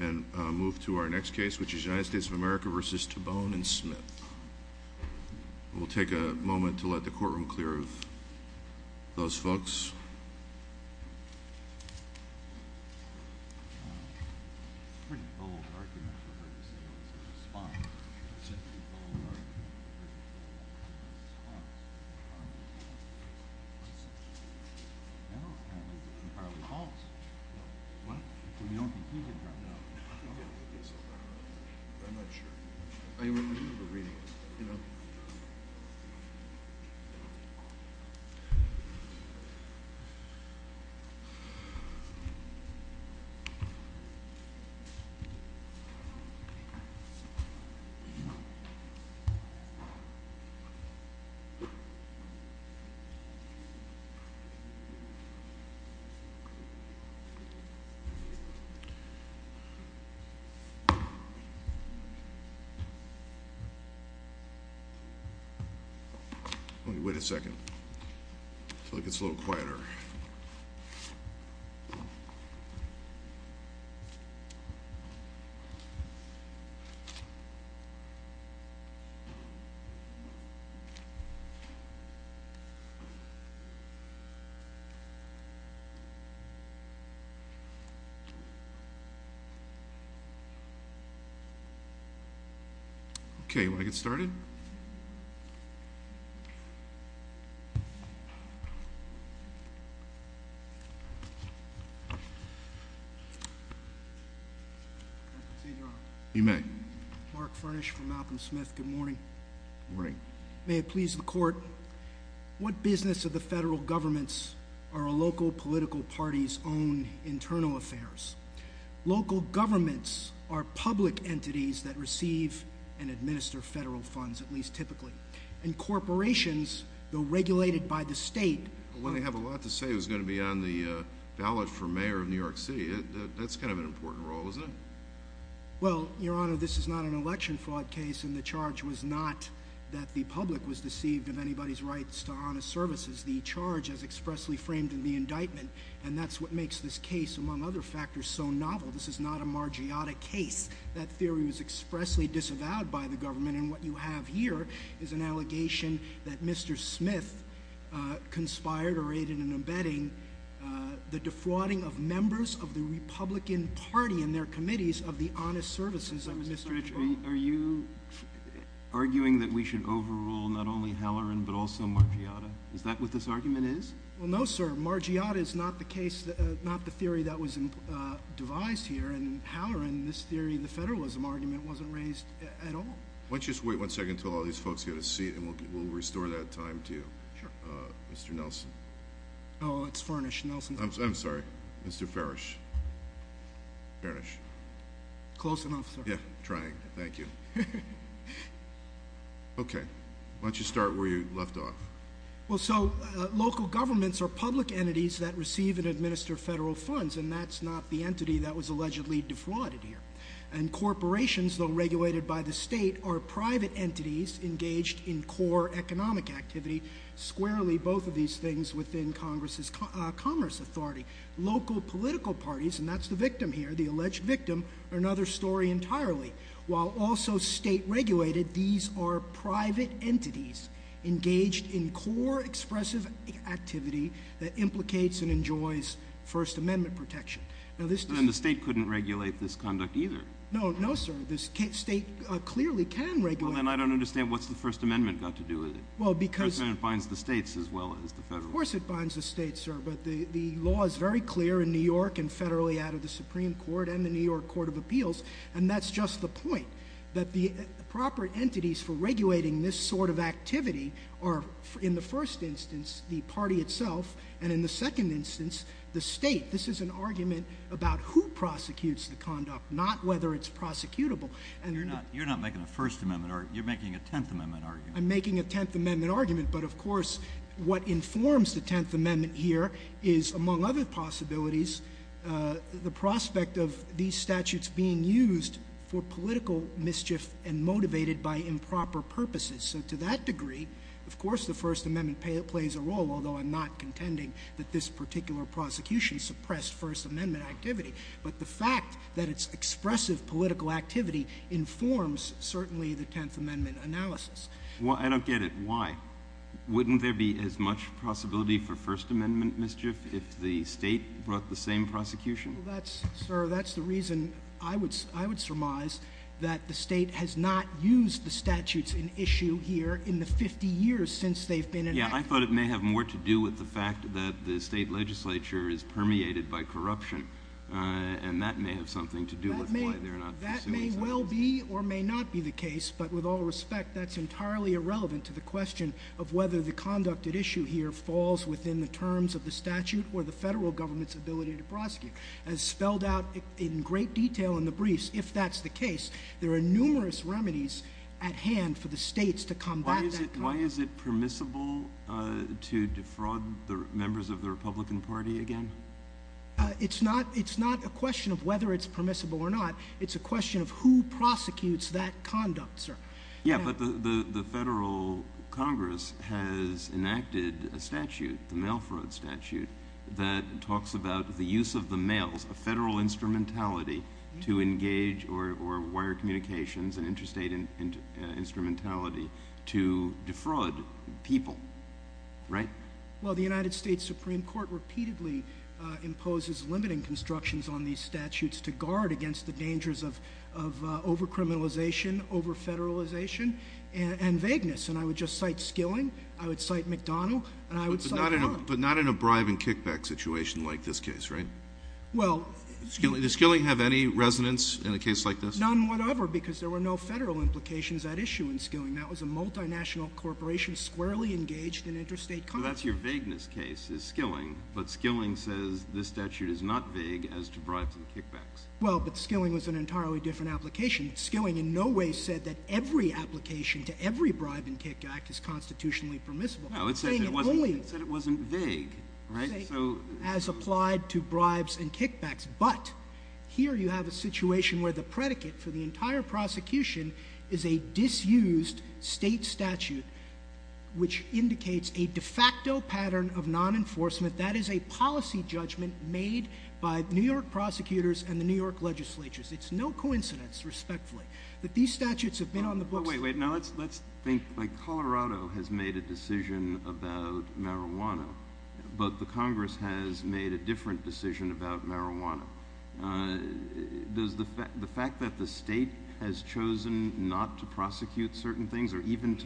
And move to our next case, which is United States of America v. Tobone and Smith. We'll take a moment to let the courtroom clear of those folks. I'm not sure. Wait a second. It's a little quieter. Okay, you want to get started? You may. Mark Furnish from Malcolm Smith. Good morning. Good morning. May it please the court. What business of the federal governments are a local political party's own internal affairs? Local governments are public entities that receive and administer federal funds, at least typically. And corporations, though regulated by the state... Well, they have a lot to say who's going to be on the ballot for mayor of New York City. That's kind of an important role, isn't it? Well, Your Honor, this is not an election fraud case, and the charge was not that the public was deceived of anybody's rights to honest services. The charge is expressly framed in the indictment, and that's what makes this case, among other factors, so novel. This is not a Margiotta case. That theory was expressly disavowed by the government, and what you have here is an allegation that Mr. Smith conspired or aided in embedding the defrauding of members of the Republican Party and their committees of the honest services of Mr. Tobone. Are you arguing that we should overrule not only Halloran, but also Margiotta? Is that what this argument is? Well, no, sir. Margiotta is not the theory that was devised here, and Halloran, this theory, the federalism argument, wasn't raised at all. Why don't you just wait one second until all these folks get a seat, and we'll restore that time to you. Sure. Mr. Nelson. Oh, it's Furnish. Nelson. I'm sorry. Mr. Furnish. Close enough, sir. Yeah, I'm trying. Thank you. Okay. Why don't you start where you left off? Well, so local governments are public entities that receive and administer federal funds, and that's not the entity that was allegedly defrauded here. And corporations, though regulated by the state, are private entities engaged in core economic activity, squarely both of these things within Congress's commerce authority. Local political parties, and that's the victim here, the alleged victim, are another story entirely. While also state-regulated, these are private entities engaged in core expressive activity that implicates and enjoys First Amendment protection. Then the state couldn't regulate this conduct either. No, no, sir. The state clearly can regulate it. Well, then I don't understand what's the First Amendment got to do with it. Well, because— The First Amendment binds the states as well as the federal government. Well, of course it binds the states, sir, but the law is very clear in New York and federally out of the Supreme Court and the New York Court of Appeals. And that's just the point, that the proper entities for regulating this sort of activity are, in the first instance, the party itself, and in the second instance, the state. This is an argument about who prosecutes the conduct, not whether it's prosecutable. You're not making a First Amendment argument. You're making a Tenth Amendment argument. I'm making a Tenth Amendment argument, but of course what informs the Tenth Amendment here is, among other possibilities, the prospect of these statutes being used for political mischief and motivated by improper purposes. So to that degree, of course the First Amendment plays a role, although I'm not contending that this particular prosecution suppressed First Amendment activity. But the fact that it's expressive political activity informs, certainly, the Tenth Amendment analysis. Well, I don't get it. Why? Wouldn't there be as much possibility for First Amendment mischief if the state brought the same prosecution? Well, sir, that's the reason I would surmise that the state has not used the statutes in issue here in the 50 years since they've been enacted. Yeah, I thought it may have more to do with the fact that the state legislature is permeated by corruption, and that may have something to do with why they're not pursuing something. That may well be or may not be the case, but with all respect, that's entirely irrelevant to the question of whether the conduct at issue here falls within the terms of the statute or the federal government's ability to prosecute. As spelled out in great detail in the briefs, if that's the case, there are numerous remedies at hand for the states to combat that crime. Why is it permissible to defraud the members of the Republican Party again? It's not a question of whether it's permissible or not. It's a question of who prosecutes that conduct, sir. Yeah, but the federal Congress has enacted a statute, the mail fraud statute, that talks about the use of the mails, a federal instrumentality, to engage or wire communications, an interstate instrumentality, to defraud people, right? Well, the United States Supreme Court repeatedly imposes limiting constructions on these statutes to guard against the dangers of over-criminalization, over-federalization, and vagueness, and I would just cite Skilling, I would cite McDonnell, and I would cite Allen. But not in a bribe and kickback situation like this case, right? Well... Does Skilling have any resonance in a case like this? None whatever, because there were no federal implications at issue in Skilling. That was a multinational corporation squarely engaged in interstate commerce. So that's your vagueness case is Skilling, but Skilling says this statute is not vague as to bribes and kickbacks. Well, but Skilling was an entirely different application. Skilling in no way said that every application to every bribe and kickback is constitutionally permissible. No, it said it wasn't vague, right? So... As applied to bribes and kickbacks, but here you have a situation where the predicate for the entire prosecution is a disused state statute, which indicates a de facto pattern of non-enforcement, that is a policy judgment made by New York prosecutors and the New York legislatures. It's no coincidence, respectfully, that these statutes have been on the books... Wait, wait, now let's think, like Colorado has made a decision about marijuana, but the Congress has made a different decision about marijuana. Does the fact that the state has chosen not to prosecute certain things or even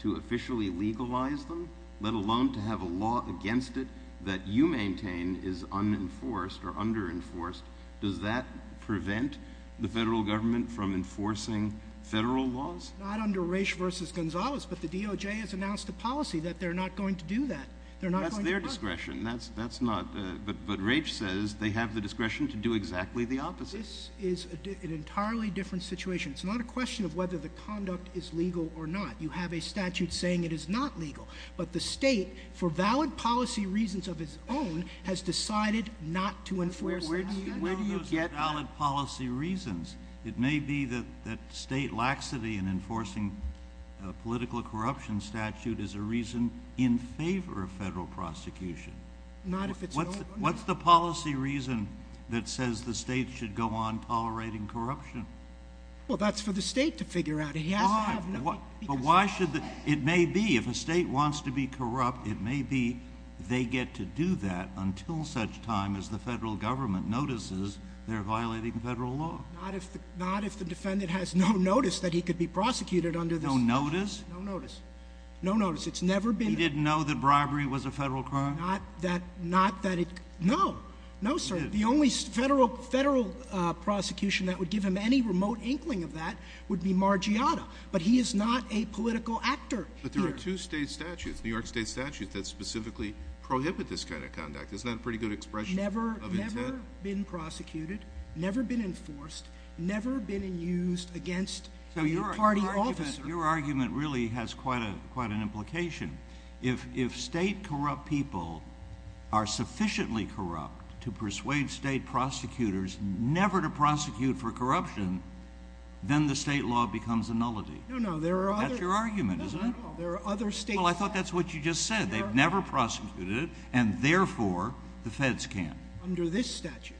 to officially legalize them, let alone to have a law against it that you maintain is unenforced or under-enforced, does that prevent the federal government from enforcing federal laws? Not under Raich v. Gonzalez, but the DOJ has announced a policy that they're not going to do that. That's their discretion, that's not... but Raich says they have the discretion to do exactly the opposite. This is an entirely different situation. It's not a question of whether the conduct is legal or not. You have a statute saying it is not legal, but the state, for valid policy reasons of its own, has decided not to enforce it. Where do you get that? Those are valid policy reasons. It may be that state laxity in enforcing a political corruption statute is a reason in favor of federal prosecution. What's the policy reason that says the state should go on tolerating corruption? Well, that's for the state to figure out. But why should the... it may be, if a state wants to be corrupt, it may be they get to do that until such time as the federal government notices they're violating federal law. Not if the defendant has no notice that he could be prosecuted under this law. No notice? No notice. No notice. It's never been... He didn't know that bribery was a federal crime? No. No, sir. The only federal prosecution that would give him any remote inkling of that would be Margiotta. But he is not a political actor. But there are two state statutes, New York state statutes, that specifically prohibit this kind of conduct. Isn't that a pretty good expression of intent? Never been prosecuted, never been enforced, never been used against a party officer. Your argument really has quite an implication. If state corrupt people are sufficiently corrupt to persuade state prosecutors never to prosecute for corruption, then the state law becomes a nullity. No, no. There are other... That's your argument, isn't it? No, no. There are other state... Well, I thought that's what you just said. They've never prosecuted it, and therefore the feds can't. Under this statute,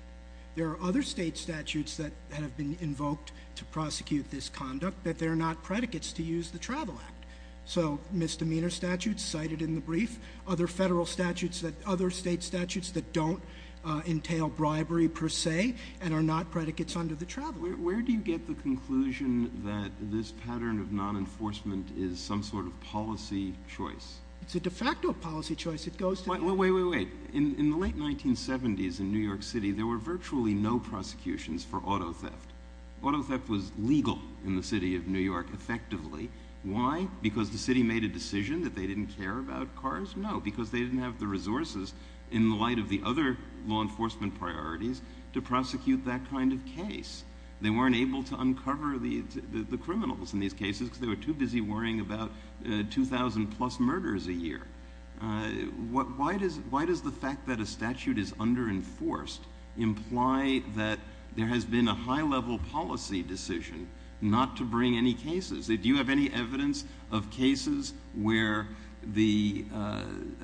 there are other state statutes that have been invoked to prosecute this conduct that they're not predicates to use the Travel Act. So misdemeanor statutes cited in the brief, other federal statutes, other state statutes that don't entail bribery per se and are not predicates under the Travel Act. Where do you get the conclusion that this pattern of non-enforcement is some sort of policy choice? It's a de facto policy choice. It goes to the... Wait, wait, wait, wait. In the late 1970s in New York City, there were virtually no prosecutions for auto theft. Auto theft was legal in the city of New York, effectively. Why? Because the city made a decision that they didn't care about cars? No, because they didn't have the resources in light of the other law enforcement priorities to prosecute that kind of case. They weren't able to uncover the criminals in these cases because they were too busy worrying about 2,000-plus murders a year. Why does the fact that a statute is under-enforced imply that there has been a high-level policy decision not to bring any cases? Do you have any evidence of cases where the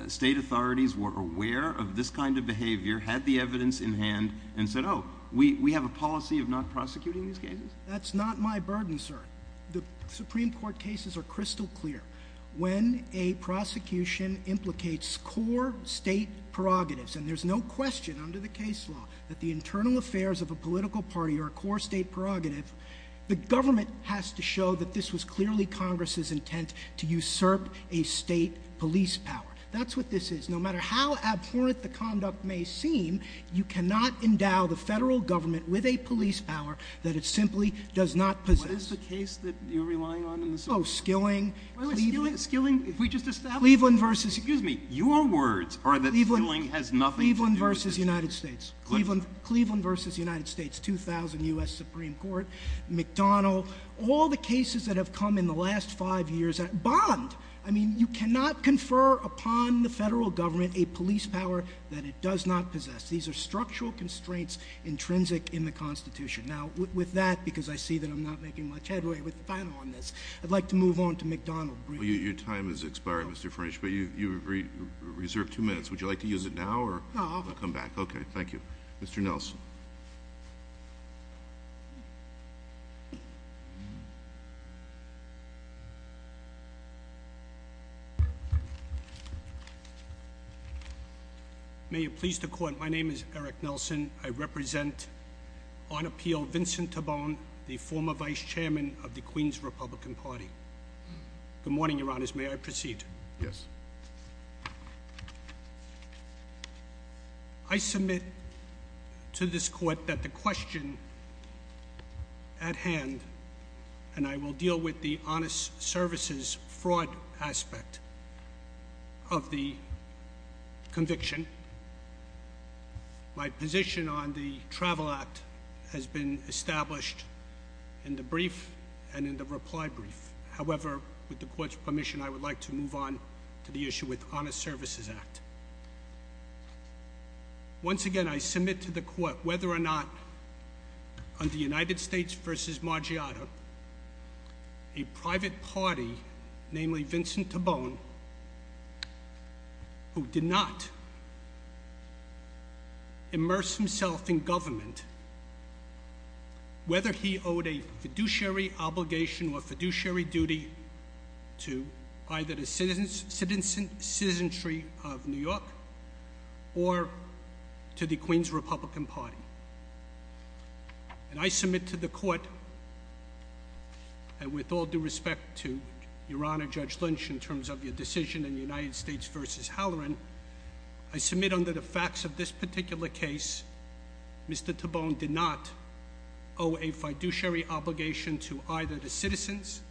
state authorities were aware of this kind of behavior, had the evidence in hand, and said, oh, we have a policy of not prosecuting these cases? That's not my burden, sir. The Supreme Court cases are crystal clear. When a prosecution implicates core state prerogatives, and there's no question under the case law that the internal affairs of a political party are a core state prerogative, the government has to show that this was clearly Congress's intent to usurp a state police power. That's what this is. No matter how abhorrent the conduct may seem, you cannot endow the federal government with a police power that it simply does not possess. What is the case that you're relying on in the Supreme Court? Oh, Skilling. Skilling, if we just establish— Cleveland versus— Excuse me, your words are that Skilling has nothing to do with this case. Cleveland versus the United States, 2000 U.S. Supreme Court, McDonnell, all the cases that have come in the last five years— Bond! I mean, you cannot confer upon the federal government a police power that it does not possess. These are structural constraints intrinsic in the Constitution. Now, with that, because I see that I'm not making much headway with the panel on this, I'd like to move on to McDonnell briefly. Well, your time has expired, Mr. French, but you have reserved two minutes. Would you like to use it now, or— No, I'll come back. Okay, thank you. Mr. Nelson. May it please the Court, my name is Eric Nelson. I represent on appeal Vincent Tabone, the former vice chairman of the Queen's Republican Party. Good morning, Your Honors. May I proceed? Yes. I submit to this Court that the question at hand—and I will deal with the honest services fraud aspect of the conviction. My position on the Travel Act has been established in the brief and in the reply brief. However, with the Court's permission, I would like to move on to the issue with the Honest Services Act. Once again, I submit to the Court whether or not, under United States v. Margiotto, a private party, namely Vincent Tabone, who did not immerse himself in government, whether he owed a fiduciary obligation or fiduciary duty to either the citizenry of New York or to the Queen's Republican Party. And I submit to the Court, and with all due respect to Your Honor Judge Lynch in terms of your decision in United States v. Halloran, I submit under the facts of this particular case, Mr. Tabone did not owe a fiduciary obligation to either the citizens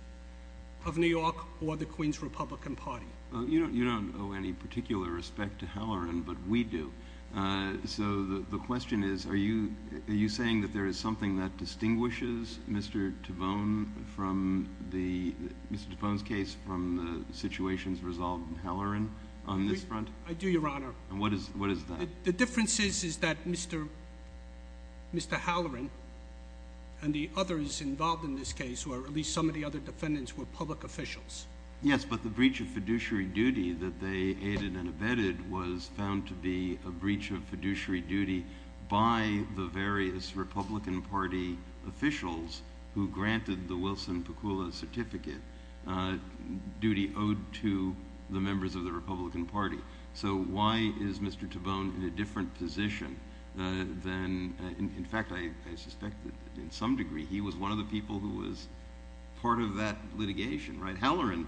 of New York or the Queen's Republican Party. You don't owe any particular respect to Halloran, but we do. So the question is, are you saying that there is something that distinguishes Mr. Tabone's case from the situations resolved in Halloran on this front? I do, Your Honor. And what is that? The difference is that Mr. Halloran and the others involved in this case, or at least some of the other defendants, were public officials. Yes, but the breach of fiduciary duty that they aided and abetted was found to be a breach of fiduciary duty by the various Republican Party officials who granted the Wilson-Pakula certificate duty owed to the members of the Republican Party. So why is Mr. Tabone in a different position than – in fact, I suspect that in some degree he was one of the people who was part of that litigation, right? Halloran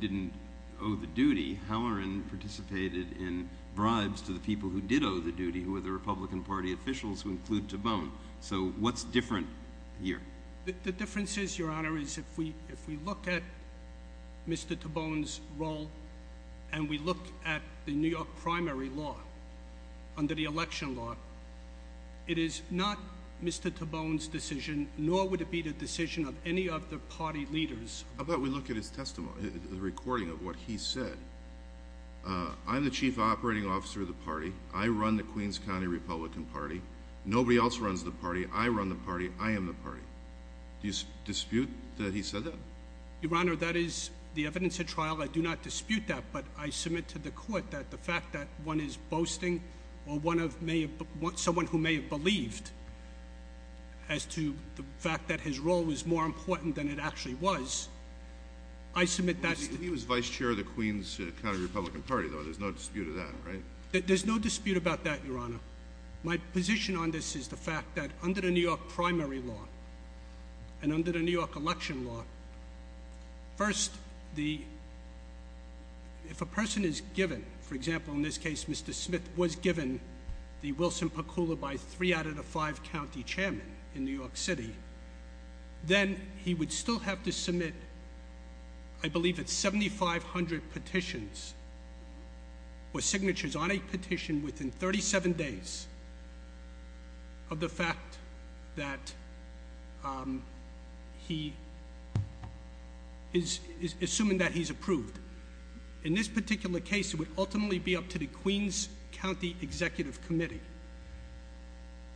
didn't owe the duty. Halloran participated in bribes to the people who did owe the duty, who were the Republican Party officials who include Tabone. So what's different here? The difference is, Your Honor, is if we look at Mr. Tabone's role and we look at the New York primary law under the election law, it is not Mr. Tabone's decision, nor would it be the decision of any of the party leaders. How about we look at his testimony, the recording of what he said? I'm the chief operating officer of the party. I run the Queens County Republican Party. Nobody else runs the party. I run the party. I am the party. Do you dispute that he said that? Your Honor, that is the evidence at trial. I do not dispute that, but I submit to the court that the fact that one is boasting or someone who may have believed as to the fact that his role was more important than it actually was, I submit that's – He was vice chair of the Queens County Republican Party, though. There's no dispute of that, right? There's no dispute about that, Your Honor. My position on this is the fact that under the New York primary law and under the New York election law, first, if a person is given, for example, in this case, Mr. Smith was given the Wilson Pakula by three out of the five county chairmen in New York City, then he would still have to submit, I believe it's 7,500 petitions or signatures on a petition within 37 days of the fact that he is assuming that he's approved. In this particular case, it would ultimately be up to the Queens County Executive Committee.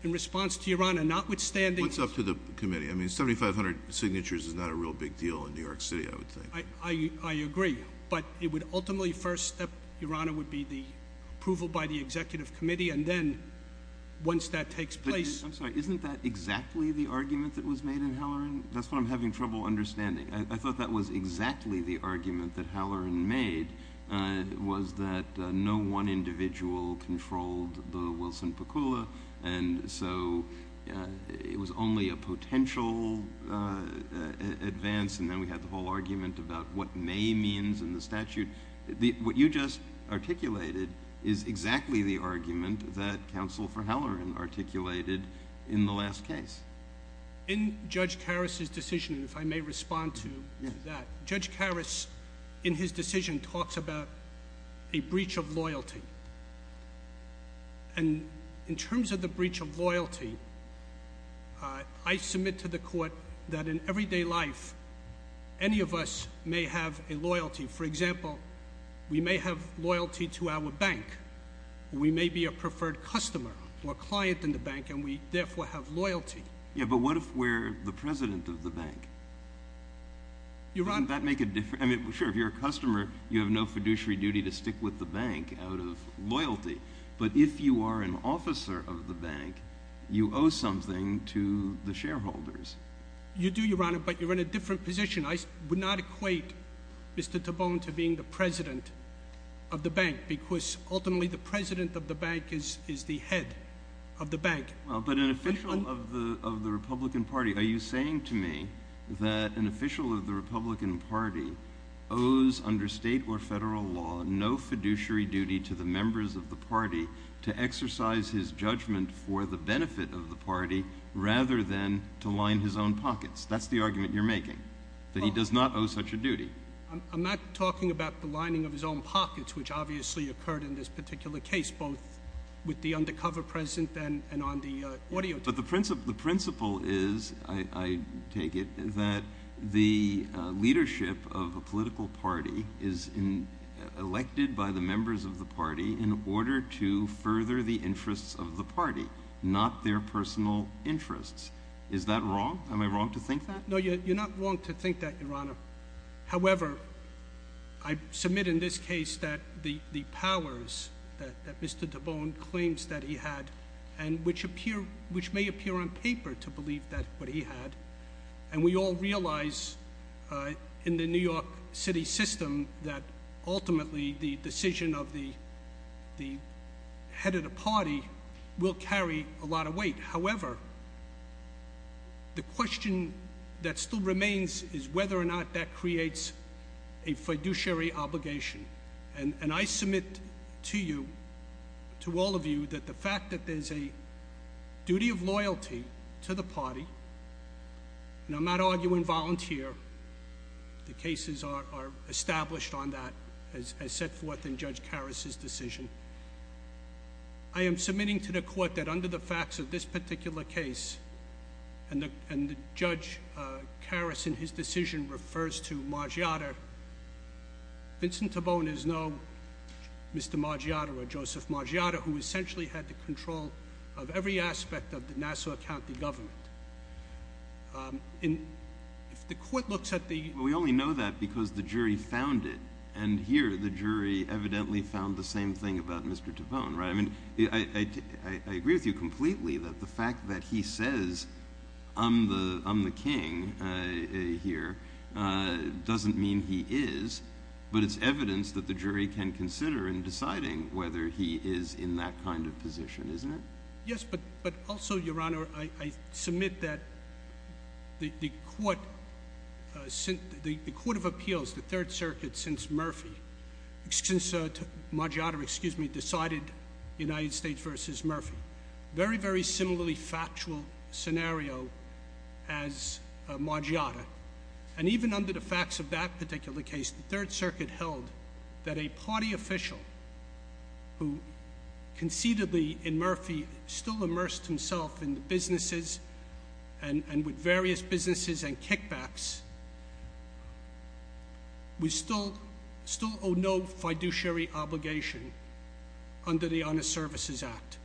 In response to Your Honor, notwithstanding – I mean, 7,500 signatures is not a real big deal in New York City, I would think. I agree, but it would ultimately first, Your Honor, would be the approval by the Executive Committee, and then once that takes place – I'm sorry. Isn't that exactly the argument that was made in Halloran? That's what I'm having trouble understanding. I thought that was exactly the argument that Halloran made, was that no one individual controlled the Wilson Pakula, and so it was only a potential advance, and then we had the whole argument about what may means in the statute. What you just articulated is exactly the argument that counsel for Halloran articulated in the last case. In Judge Karras' decision, if I may respond to that, Judge Karras, in his decision, talks about a breach of loyalty. And in terms of the breach of loyalty, I submit to the court that in everyday life, any of us may have a loyalty. For example, we may have loyalty to our bank, or we may be a preferred customer or client in the bank, and we therefore have loyalty. Yeah, but what if we're the president of the bank? Your Honor – Wouldn't that make a difference? I mean, sure, if you're a customer, you have no fiduciary duty to stick with the bank out of loyalty. But if you are an officer of the bank, you owe something to the shareholders. You do, Your Honor, but you're in a different position. I would not equate Mr. Tabone to being the president of the bank because ultimately the president of the bank is the head of the bank. Well, but an official of the Republican Party, are you saying to me that an official of the Republican Party owes under state or federal law no fiduciary duty to the members of the party to exercise his judgment for the benefit of the party rather than to line his own pockets? That's the argument you're making, that he does not owe such a duty. I'm not talking about the lining of his own pockets, which obviously occurred in this particular case, both with the undercover president and on the audio tape. But the principle is, I take it, that the leadership of a political party is elected by the members of the party in order to further the interests of the party, not their personal interests. Is that wrong? Am I wrong to think that? No, you're not wrong to think that, Your Honor. However, I submit in this case that the powers that Mr. Tabone claims that he had, and which may appear on paper to believe that what he had, and we all realize in the New York City system that ultimately the decision of the head of the party will carry a lot of weight. However, the question that still remains is whether or not that creates a fiduciary obligation. And I submit to you, to all of you, that the fact that there's a duty of loyalty to the party, and I'm not arguing volunteer. The cases are established on that, as set forth in Judge Karas's decision. I am submitting to the court that under the facts of this particular case, and Judge Karas in his decision refers to Margiotta, Vincent Tabone is no Mr. Margiotta or Joseph Margiotta, who essentially had the control of every aspect of the Nassau County government. We only know that because the jury found it, and here the jury evidently found the same thing about Mr. Tabone. I agree with you completely that the fact that he says, I'm the king here, doesn't mean he is, but it's evidence that the jury can consider in deciding whether he is in that kind of position, isn't it? Yes, but also, Your Honor, I submit that the Court of Appeals, the Third Circuit, since Margiotta decided United States versus Murphy, very, very similarly factual scenario as Margiotta. And even under the facts of that particular case, the Third Circuit held that a party official, who concededly, in Murphy, still immersed himself in the businesses and with various businesses and kickbacks, would still owe no fiduciary obligation under the Honor Services Act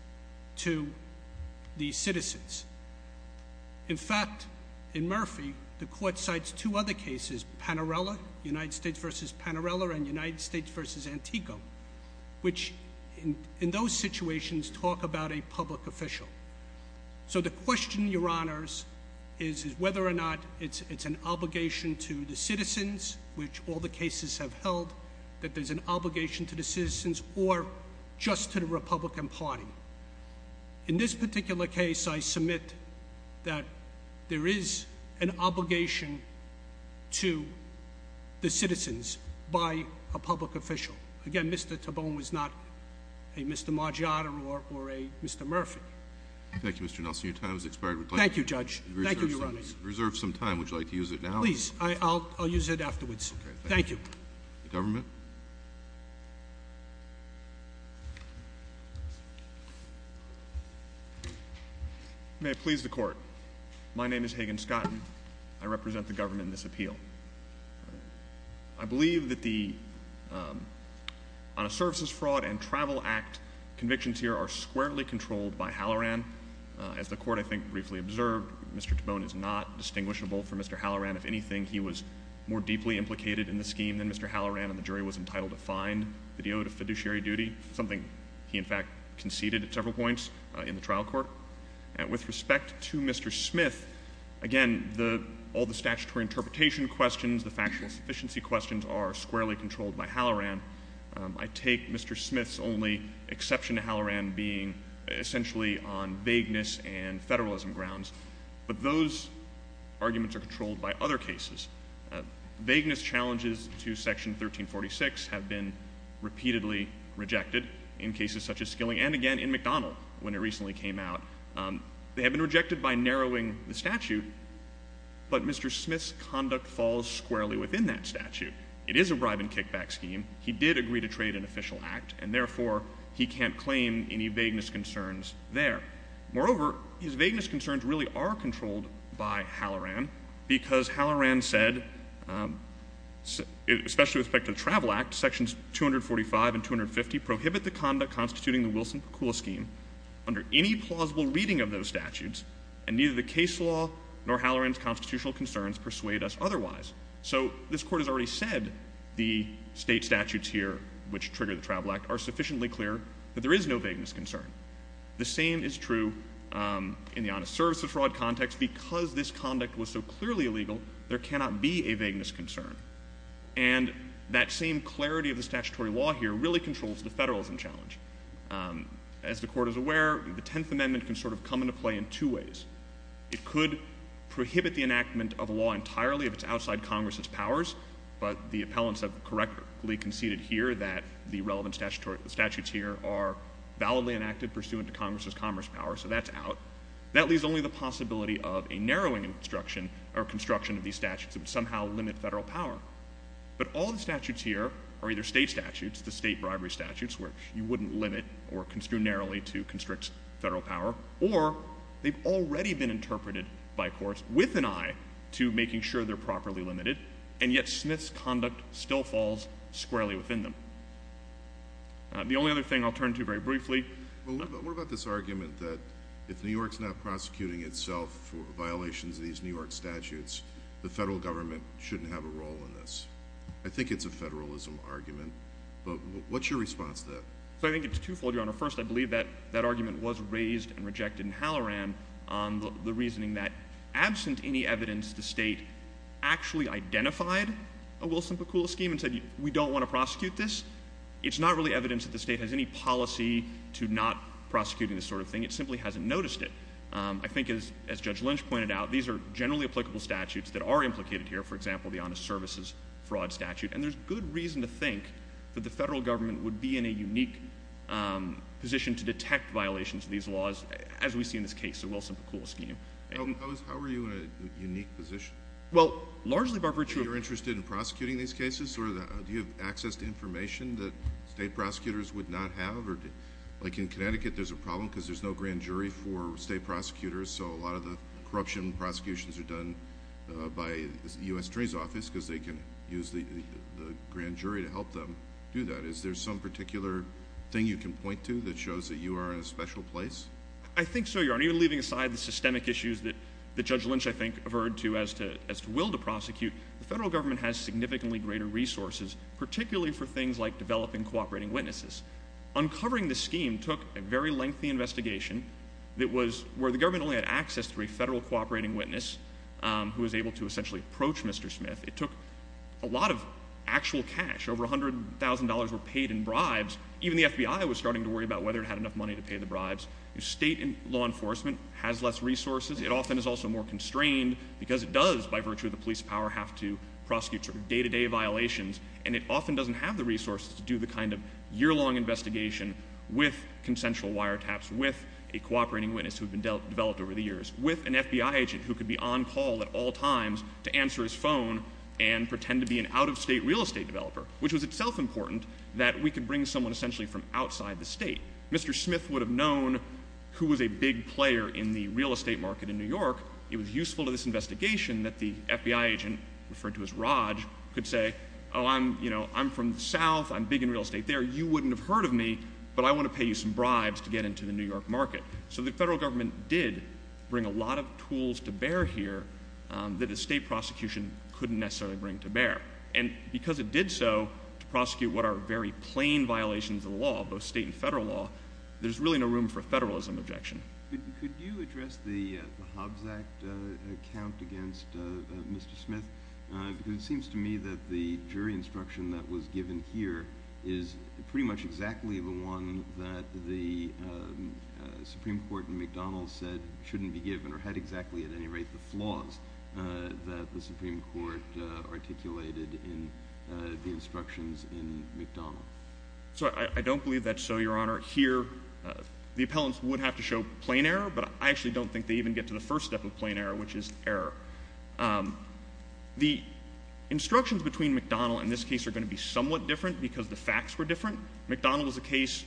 to the citizens. In fact, in Murphy, the Court cites two other cases, Panarella, United States versus Panarella, and United States versus Antico, which in those situations talk about a public official. So the question, Your Honors, is whether or not it's an obligation to the citizens, which all the cases have held, that there's an obligation to the citizens or just to the Republican Party. In this particular case, I submit that there is an obligation to the citizens by a public official. Again, Mr. Tabone was not a Mr. Margiotta or a Mr. Murphy. Thank you, Mr. Nelson. Your time has expired. Thank you, Judge. Thank you, Your Honors. Reserve some time. Would you like to use it now? Please. I'll use it afterwards. Thank you. Government? May it please the Court, my name is Hagan Scott, and I represent the government in this appeal. I believe that the Honor Services Fraud and Travel Act convictions here are squarely controlled by Halloran. As the Court, I think, briefly observed, Mr. Tabone is not distinguishable from Mr. Halloran. If anything, he was more deeply implicated in the scheme than Mr. Halloran, and the jury was entitled to find that he owed a fiduciary duty, something he, in fact, conceded at several points in the trial court. With respect to Mr. Smith, again, all the statutory interpretation questions, the factual sufficiency questions are squarely controlled by Halloran. I take Mr. Smith's only exception to Halloran being essentially on vagueness and federalism grounds, but those arguments are controlled by other cases. Vagueness challenges to Section 1346 have been repeatedly rejected in cases such as Skilling, and again in McDonald when it recently came out. They have been rejected by narrowing the statute, but Mr. Smith's conduct falls squarely within that statute. It is a bribe and kickback scheme. He did agree to trade an official act, and therefore he can't claim any vagueness concerns there. Moreover, his vagueness concerns really are controlled by Halloran, because Halloran said, especially with respect to the Travel Act, Sections 245 and 250 prohibit the conduct constituting the Wilson-Pakula scheme under any plausible reading of those statutes, and neither the case law nor Halloran's constitutional concerns persuade us otherwise. So this Court has already said the state statutes here which trigger the Travel Act are sufficiently clear that there is no vagueness concern. The same is true in the honest service of fraud context. Because this conduct was so clearly illegal, there cannot be a vagueness concern. And that same clarity of the statutory law here really controls the federalism challenge. As the Court is aware, the Tenth Amendment can sort of come into play in two ways. It could prohibit the enactment of a law entirely if it's outside Congress's powers, but the appellants have correctly conceded here that the relevant statutes here are validly enacted pursuant to Congress's commerce power, so that's out. That leaves only the possibility of a narrowing construction of these statutes that would somehow limit federal power. But all the statutes here are either state statutes, the state bribery statutes, where you wouldn't limit or construe narrowly to constrict federal power, or they've already been interpreted by courts with an eye to making sure they're properly limited, and yet Smith's conduct still falls squarely within them. The only other thing I'll turn to very briefly... What about this argument that if New York's not prosecuting itself for violations of these New York statutes, the federal government shouldn't have a role in this? I think it's a federalism argument, but what's your response to that? I think it's twofold, Your Honor. First, I believe that that argument was raised and rejected in Halloran on the reasoning that absent any evidence, the state actually identified a Wilson-Pakula scheme and said, we don't want to prosecute this. It's not really evidence that the state has any policy to not prosecuting this sort of thing. It simply hasn't noticed it. I think as Judge Lynch pointed out, these are generally applicable statutes that are implicated here, for example, the Honest Services Fraud Statute, and there's good reason to think that the federal government would be in a unique position to detect violations of these laws, as we see in this case, the Wilson-Pakula scheme. How are you in a unique position? Well, largely by virtue of... Do you have access to information that state prosecutors would not have? Like in Connecticut, there's a problem because there's no grand jury for state prosecutors, so a lot of the corruption prosecutions are done by the U.S. Attorney's Office because they can use the grand jury to help them do that. Is there some particular thing you can point to that shows that you are in a special place? I think so, Your Honor. Even leaving aside the systemic issues that Judge Lynch, I think, averred to as to will to prosecute, the federal government has significantly greater resources, particularly for things like developing cooperating witnesses. Uncovering the scheme took a very lengthy investigation where the government only had access to a federal cooperating witness who was able to essentially approach Mr. Smith. It took a lot of actual cash. Over $100,000 were paid in bribes. Even the FBI was starting to worry about whether it had enough money to pay the bribes. State law enforcement has less resources. It often is also more constrained because it does, by virtue of the police power, have to prosecute sort of day-to-day violations, and it often doesn't have the resources to do the kind of year-long investigation with consensual wiretaps, with a cooperating witness who had been developed over the years, with an FBI agent who could be on call at all times to answer his phone and pretend to be an out-of-state real estate developer, which was itself important that we could bring someone essentially from outside the state. Mr. Smith would have known who was a big player in the real estate market in New York. It was useful to this investigation that the FBI agent, referred to as Raj, could say, oh, I'm from the South, I'm big in real estate there, you wouldn't have heard of me, but I want to pay you some bribes to get into the New York market. So the federal government did bring a lot of tools to bear here that the state prosecution couldn't necessarily bring to bear. And because it did so to prosecute what are very plain violations of the law, both state and federal law, there's really no room for a federalism objection. Could you address the Hobbs Act account against Mr. Smith? Because it seems to me that the jury instruction that was given here is pretty much exactly the one that the Supreme Court in McDonald's said shouldn't be given, or had exactly at any rate the flaws that the Supreme Court articulated in the instructions in McDonald's. I don't believe that's so, Your Honor. Here the appellants would have to show plain error, but I actually don't think they even get to the first step of plain error, which is error. The instructions between McDonald and this case are going to be somewhat different because the facts were different. McDonald was a case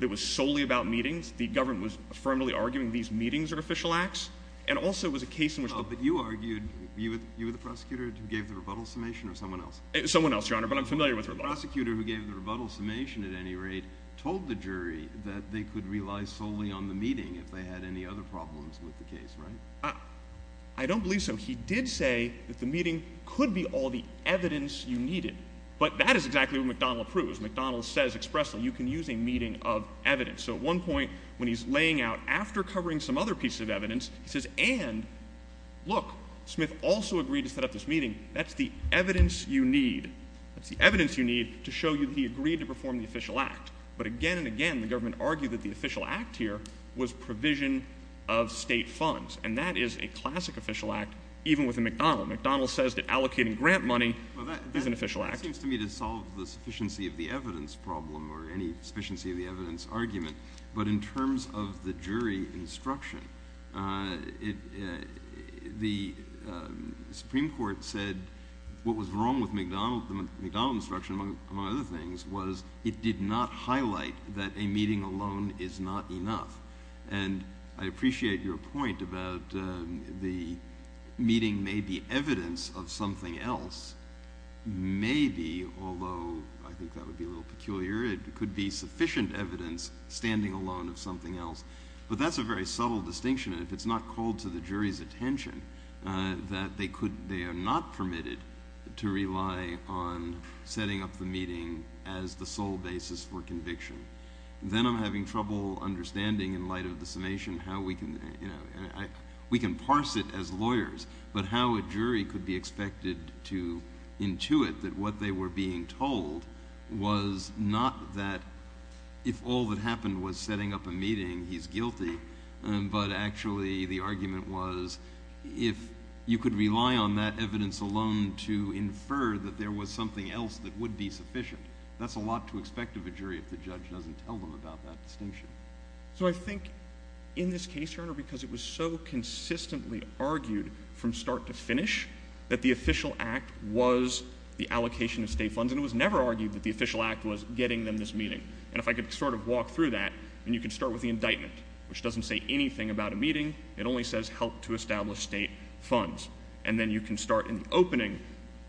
that was solely about meetings. The government was firmly arguing these meetings are official acts, and also it was a case in which the- But you argued, you were the prosecutor who gave the rebuttal summation, or someone else? Someone else, Your Honor, but I'm familiar with rebuttals. The prosecutor who gave the rebuttal summation at any rate told the jury that they could rely solely on the meeting if they had any other problems with the case, right? I don't believe so. He did say that the meeting could be all the evidence you needed, but that is exactly what McDonald approves. McDonald says expressly, you can use a meeting of evidence. So at one point when he's laying out, after covering some other piece of evidence, he says, and look, Smith also agreed to set up this meeting. That's the evidence you need. That's the evidence you need to show you that he agreed to perform the official act. But again and again, the government argued that the official act here was provision of state funds, and that is a classic official act, even with a McDonald. McDonald says that allocating grant money is an official act. That seems to me to solve the sufficiency of the evidence problem or any sufficiency of the evidence argument. But in terms of the jury instruction, the Supreme Court said what was wrong with the McDonald instruction, among other things, was it did not highlight that a meeting alone is not enough. And I appreciate your point about the meeting may be evidence of something else. Maybe, although I think that would be a little peculiar, it could be sufficient evidence standing alone of something else. But that's a very subtle distinction, and if it's not called to the jury's attention, that they are not permitted to rely on setting up the meeting as the sole basis for conviction. Then I'm having trouble understanding, in light of the summation, how we can parse it as lawyers, but how a jury could be expected to intuit that what they were being told was not that if all that happened was setting up a meeting, he's guilty, but actually the argument was if you could rely on that evidence alone to infer that there was something else that would be sufficient. That's a lot to expect of a jury if the judge doesn't tell them about that distinction. So I think in this case, Your Honor, because it was so consistently argued from start to finish that the official act was the allocation of state funds, and it was never argued that the official act was getting them this meeting. And if I could sort of walk through that, and you can start with the indictment, which doesn't say anything about a meeting. It only says help to establish state funds. And then you can start in the opening.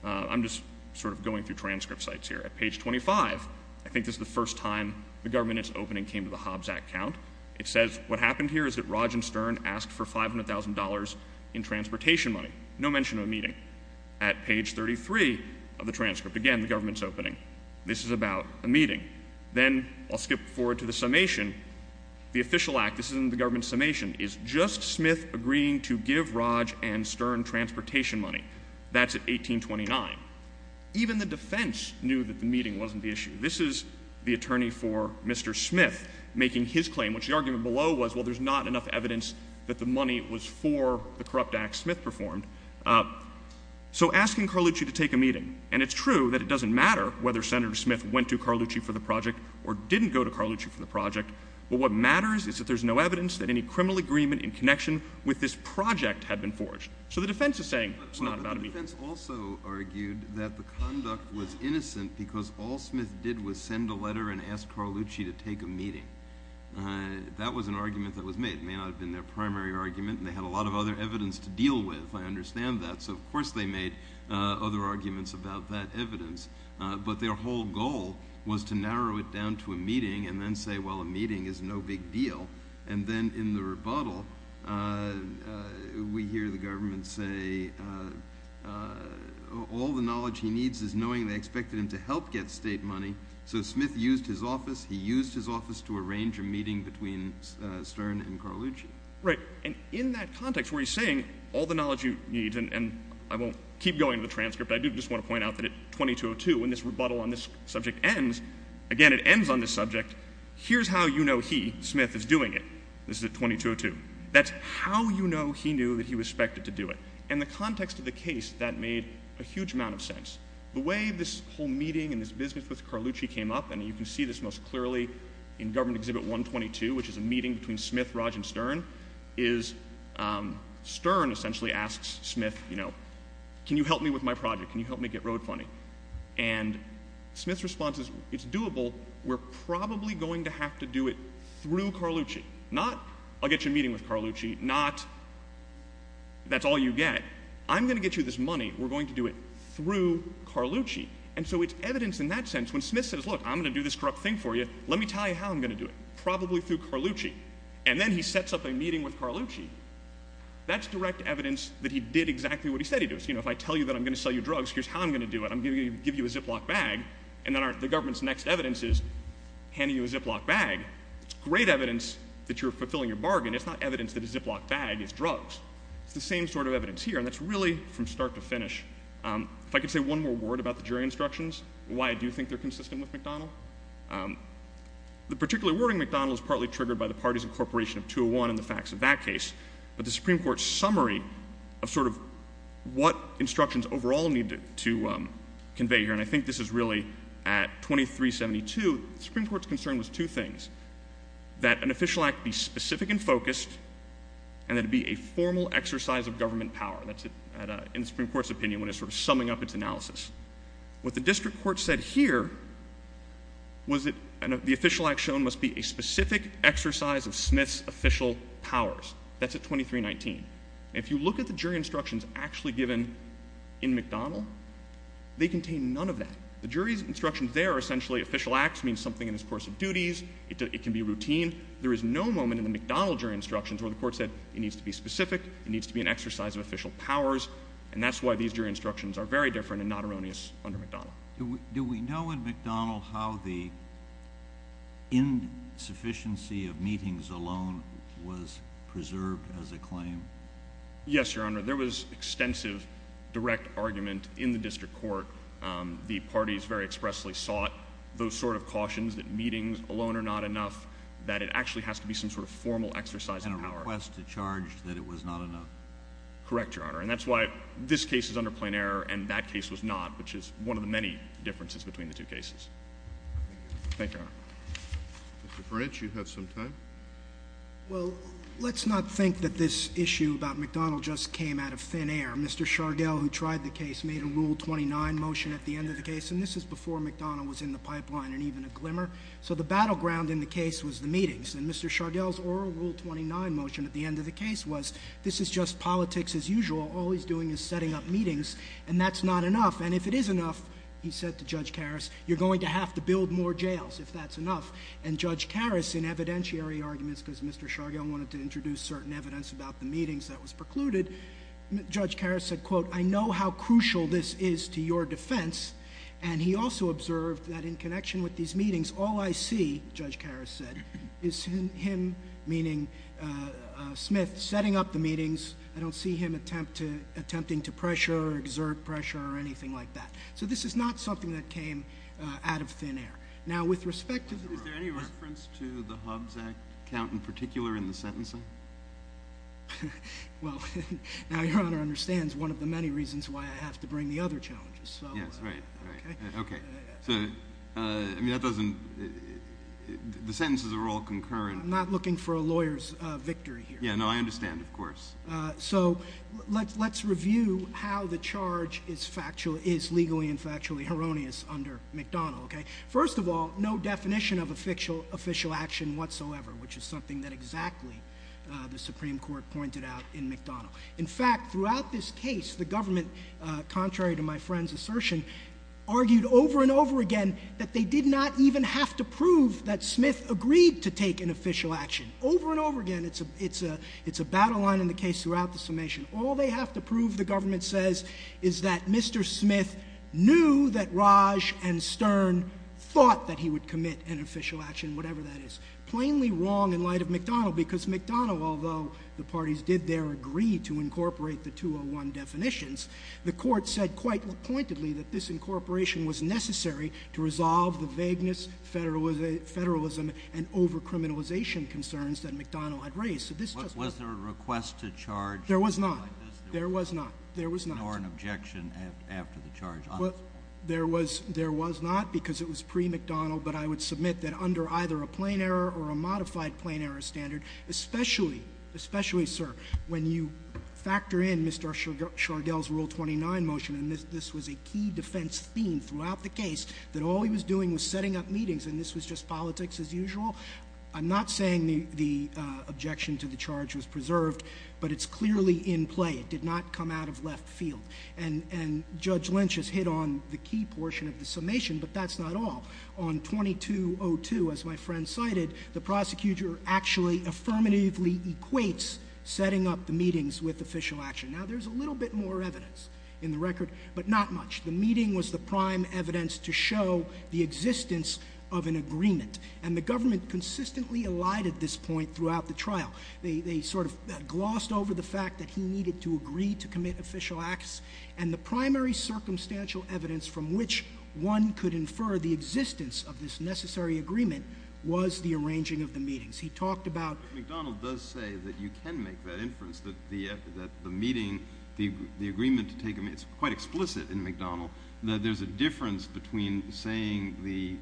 I'm just sort of going through transcript sites here. At page 25, I think this is the first time the government has opened and came to the Hobbs Act count. It says what happened here is that Roger Stern asked for $500,000 in transportation money, no mention of a meeting. At page 33 of the transcript, again, the government's opening. This is about a meeting. Then I'll skip forward to the summation. The official act, this is in the government's summation, is just Smith agreeing to give Roger and Stern transportation money. That's at 1829. Even the defense knew that the meeting wasn't the issue. This is the attorney for Mr. Smith making his claim, which the argument below was, well, there's not enough evidence that the money was for the corrupt act Smith performed. So asking Carlucci to take a meeting, and it's true that it doesn't matter whether Senator Smith went to Carlucci for the project or didn't go to Carlucci for the project, but what matters is that there's no evidence that any criminal agreement in connection with this project had been forged. So the defense is saying it's not about a meeting. But the defense also argued that the conduct was innocent because all Smith did was send a letter and ask Carlucci to take a meeting. That was an argument that was made. It may not have been their primary argument, and they had a lot of other evidence to deal with, I understand that. So, of course, they made other arguments about that evidence. But their whole goal was to narrow it down to a meeting and then say, well, a meeting is no big deal. And then in the rebuttal, we hear the government say all the knowledge he needs is knowing they expected him to help get state money. So Smith used his office. He used his office to arrange a meeting between Stern and Carlucci. Right. And in that context where he's saying all the knowledge you need, and I won't keep going to the transcript, I do just want to point out that at 2202, when this rebuttal on this subject ends, again, it ends on this subject, here's how you know he, Smith, is doing it. This is at 2202. That's how you know he knew that he was expected to do it. In the context of the case, that made a huge amount of sense. The way this whole meeting and this business with Carlucci came up, and you can see this most clearly in Government Exhibit 122, which is a meeting between Smith, Raj, and Stern, is Stern essentially asks Smith, you know, can you help me with my project? Can you help me get road funding? And Smith's response is, it's doable. We're probably going to have to do it through Carlucci. Not I'll get you a meeting with Carlucci. Not that's all you get. I'm going to get you this money. We're going to do it through Carlucci. And so it's evidence in that sense when Smith says, look, I'm going to do this corrupt thing for you. Let me tell you how I'm going to do it. Probably through Carlucci. And then he sets up a meeting with Carlucci. That's direct evidence that he did exactly what he said he'd do. So, you know, if I tell you that I'm going to sell you drugs, here's how I'm going to do it. I'm going to give you a Ziploc bag. And then the government's next evidence is handing you a Ziploc bag. It's great evidence that you're fulfilling your bargain. It's not evidence that a Ziploc bag is drugs. It's the same sort of evidence here. And that's really from start to finish. If I could say one more word about the jury instructions, why I do think they're consistent with McDonnell. The particular wording, McDonnell, is partly triggered by the parties incorporation of 201 and the facts of that case. But the Supreme Court's summary of sort of what instructions overall need to convey here, and I think this is really at 2372, the Supreme Court's concern was two things, that an official act be specific and focused and that it be a formal exercise of government power. That's in the Supreme Court's opinion when it's sort of summing up its analysis. What the district court said here was that the official act shown must be a specific exercise of Smith's official powers. That's at 2319. And if you look at the jury instructions actually given in McDonnell, they contain none of that. The jury's instructions there are essentially official acts means something in his course of duties. It can be routine. There is no moment in the McDonnell jury instructions where the court said it needs to be specific, it needs to be an exercise of official powers, and that's why these jury instructions are very different and not erroneous under McDonnell. Do we know in McDonnell how the insufficiency of meetings alone was preserved as a claim? Yes, Your Honor. There was extensive direct argument in the district court. The parties very expressly sought those sort of cautions that meetings alone are not enough, that it actually has to be some sort of formal exercise of power. It was a request to charge that it was not enough. Correct, Your Honor. And that's why this case is under plain error and that case was not, which is one of the many differences between the two cases. Thank you. Thank you, Your Honor. Mr. French, you have some time. Well, let's not think that this issue about McDonnell just came out of thin air. Mr. Shargell, who tried the case, made a Rule 29 motion at the end of the case, and this is before McDonnell was in the pipeline and even a glimmer. So the battleground in the case was the meetings. And Mr. Shargell's oral Rule 29 motion at the end of the case was this is just politics as usual. All he's doing is setting up meetings, and that's not enough. And if it is enough, he said to Judge Karras, you're going to have to build more jails if that's enough. And Judge Karras, in evidentiary arguments, because Mr. Shargell wanted to introduce certain evidence about the meetings that was precluded, Judge Karras said, quote, I know how crucial this is to your defense. And he also observed that in connection with these meetings, all I see, Judge Karras said, is him, meaning Smith, setting up the meetings. I don't see him attempting to pressure or exert pressure or anything like that. So this is not something that came out of thin air. Now, with respect to the— Is there any reference to the Hobbs Act count in particular in the sentencing? Well, now Your Honor understands one of the many reasons why I have to bring the other challenges. Yes, right, right. Okay. So, I mean, that doesn't—the sentences are all concurrent. I'm not looking for a lawyer's victory here. Yeah, no, I understand, of course. So let's review how the charge is legally and factually erroneous under McDonnell, okay? First of all, no definition of official action whatsoever, which is something that exactly the Supreme Court pointed out in McDonnell. In fact, throughout this case, the government, contrary to my friend's assertion, argued over and over again that they did not even have to prove that Smith agreed to take an official action. Over and over again. It's a battle line in the case throughout the summation. All they have to prove, the government says, is that Mr. Smith knew that Raj and Stern thought that he would commit an official action, whatever that is. Plainly wrong in light of McDonnell, because McDonnell, although the parties did there agree to incorporate the 201 definitions, the Court said quite pointedly that this incorporation was necessary to resolve the vagueness, federalism, and over-criminalization concerns that McDonnell had raised. So this just— Was there a request to charge— There was not. There was not. There was not. —nor an objection after the charge. Well, there was not, because it was pre-McDonnell. But I would submit that under either a plain error or a modified plain error standard, especially, especially, sir, when you factor in Mr. Shargell's Rule 29 motion, and this was a key defense theme throughout the case, that all he was doing was setting up meetings, and this was just politics as usual. I'm not saying the objection to the charge was preserved, but it's clearly in play. It did not come out of left field. And Judge Lynch has hit on the key portion of the summation, but that's not all. On 2202, as my friend cited, the prosecutor actually affirmatively equates setting up the meetings with official action. Now, there's a little bit more evidence in the record, but not much. The meeting was the prime evidence to show the existence of an agreement, and the government consistently elided this point throughout the trial. They sort of glossed over the fact that he needed to agree to commit official acts, and the primary circumstantial evidence from which one could infer the existence of this necessary agreement was the arranging of the meetings. He talked about— But McDonnell does say that you can make that inference, that the meeting, the agreement to take a meeting, it's quite explicit in McDonnell that there's a difference between saying the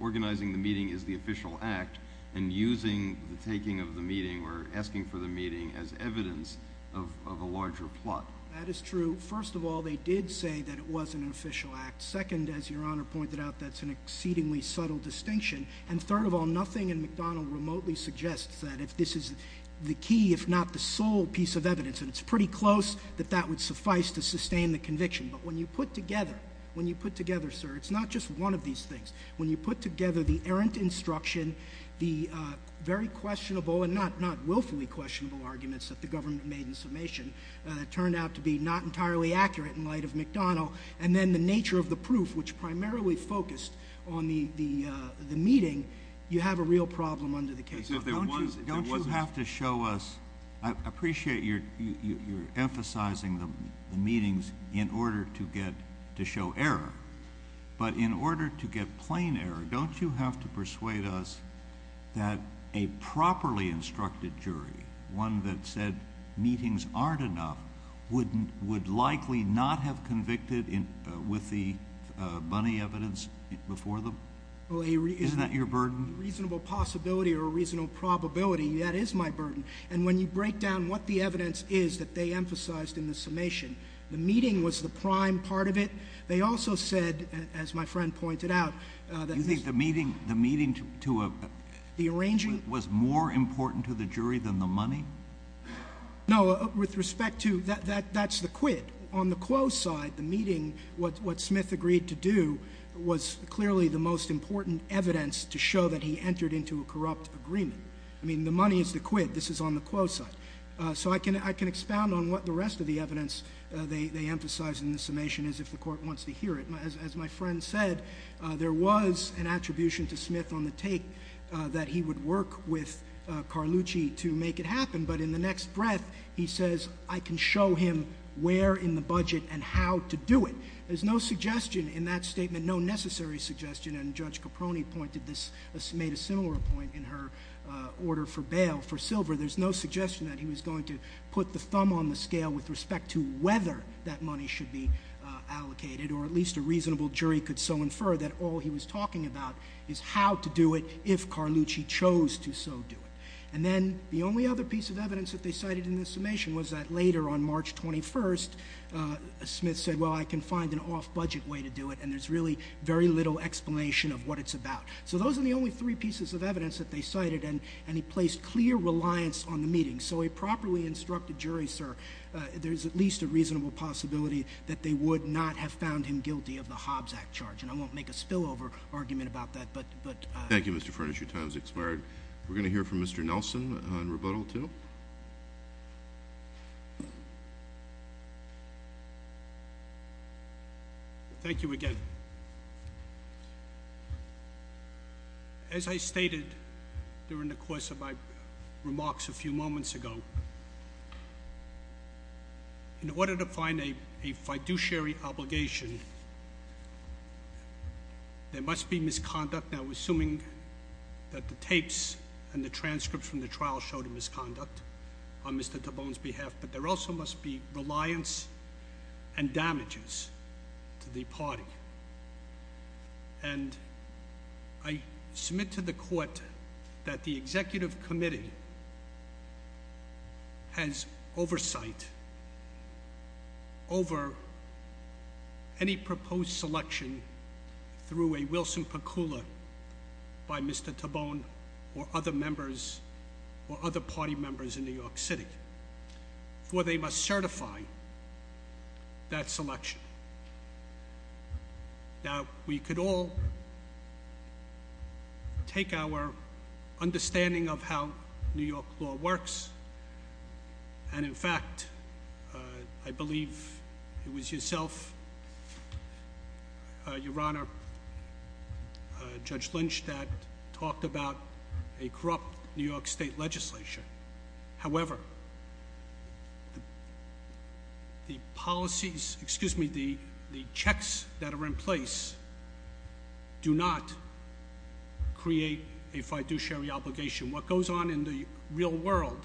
organizing the meeting is the official act and using the taking of the meeting or asking for the meeting as evidence of a larger plot. That is true. First of all, they did say that it was an official act. Second, as Your Honor pointed out, that's an exceedingly subtle distinction. And third of all, nothing in McDonnell remotely suggests that if this is the key, if not the sole piece of evidence, and it's pretty close, that that would suffice to sustain the conviction. But when you put together—when you put together, sir, it's not just one of these things. When you put together the errant instruction, the very questionable and not willfully questionable arguments that the government made in summation that turned out to be not entirely accurate in light of McDonnell, and then the nature of the proof, which primarily focused on the meeting, you have a real problem under the case law. Don't you have to show us—I appreciate you're emphasizing the meetings in order to get—to show error. But in order to get plain error, don't you have to persuade us that a properly instructed jury, one that said meetings aren't enough, would likely not have convicted with the bunny evidence before them? Isn't that your burden? A reasonable possibility or a reasonable probability, that is my burden. And when you break down what the evidence is that they emphasized in the summation, the meeting was the prime part of it. They also said, as my friend pointed out— You think the meeting to a— The arranging— —was more important to the jury than the money? No, with respect to—that's the quid. On the quo side, the meeting, what Smith agreed to do was clearly the most important evidence to show that he entered into a corrupt agreement. I mean, the money is the quid. This is on the quo side. So I can expound on what the rest of the evidence they emphasized in the summation is if the court wants to hear it. As my friend said, there was an attribution to Smith on the take that he would work with Carlucci to make it happen. But in the next breath, he says, I can show him where in the budget and how to do it. There's no suggestion in that statement, no necessary suggestion, and Judge Caproni pointed this— made a similar point in her order for bail for Silver. There's no suggestion that he was going to put the thumb on the scale with respect to whether that money should be allocated, or at least a reasonable jury could so infer that all he was talking about is how to do it if Carlucci chose to so do it. And then the only other piece of evidence that they cited in the summation was that later on March 21st, Smith said, well, I can find an off-budget way to do it, and there's really very little explanation of what it's about. So those are the only three pieces of evidence that they cited, and he placed clear reliance on the meeting. So a properly instructed jury, sir, there's at least a reasonable possibility that they would not have found him guilty of the Hobbs Act charge. And I won't make a spillover argument about that, but— Thank you, Mr. Furnish. Your time has expired. We're going to hear from Mr. Nelson on rebuttal, too. Thank you. Thank you again. As I stated during the course of my remarks a few moments ago, in order to find a fiduciary obligation, there must be misconduct. Now, assuming that the tapes and the transcripts from the trial showed a misconduct on Mr. DeBone's behalf, but there also must be reliance and damages to the party. And I submit to the court that the executive committee has oversight over any proposed selection through a Wilson-Percoula by Mr. DeBone or other members or other party members in New York City, for they must certify that selection. Now, we could all take our understanding of how New York law works. And, in fact, I believe it was yourself, Your Honor, Judge Lynch, that talked about a corrupt New York State legislature. However, the checks that are in place do not create a fiduciary obligation. What goes on in the real world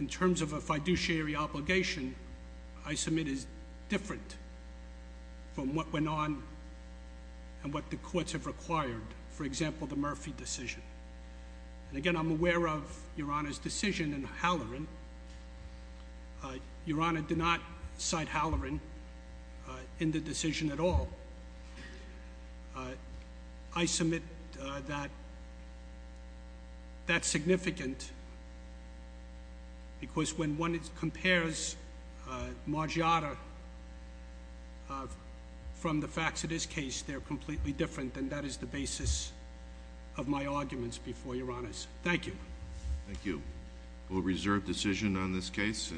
in terms of a fiduciary obligation, I submit, is different from what went on and what the courts have required, for example, the Murphy decision. And, again, I'm aware of Your Honor's decision in Halloran. Your Honor did not cite Halloran in the decision at all. I submit that that's significant because when one compares Margiotta from the facts of this case, they're completely different, and that is the basis of my arguments before Your Honors. Thank you. Thank you. We'll reserve decision on this case.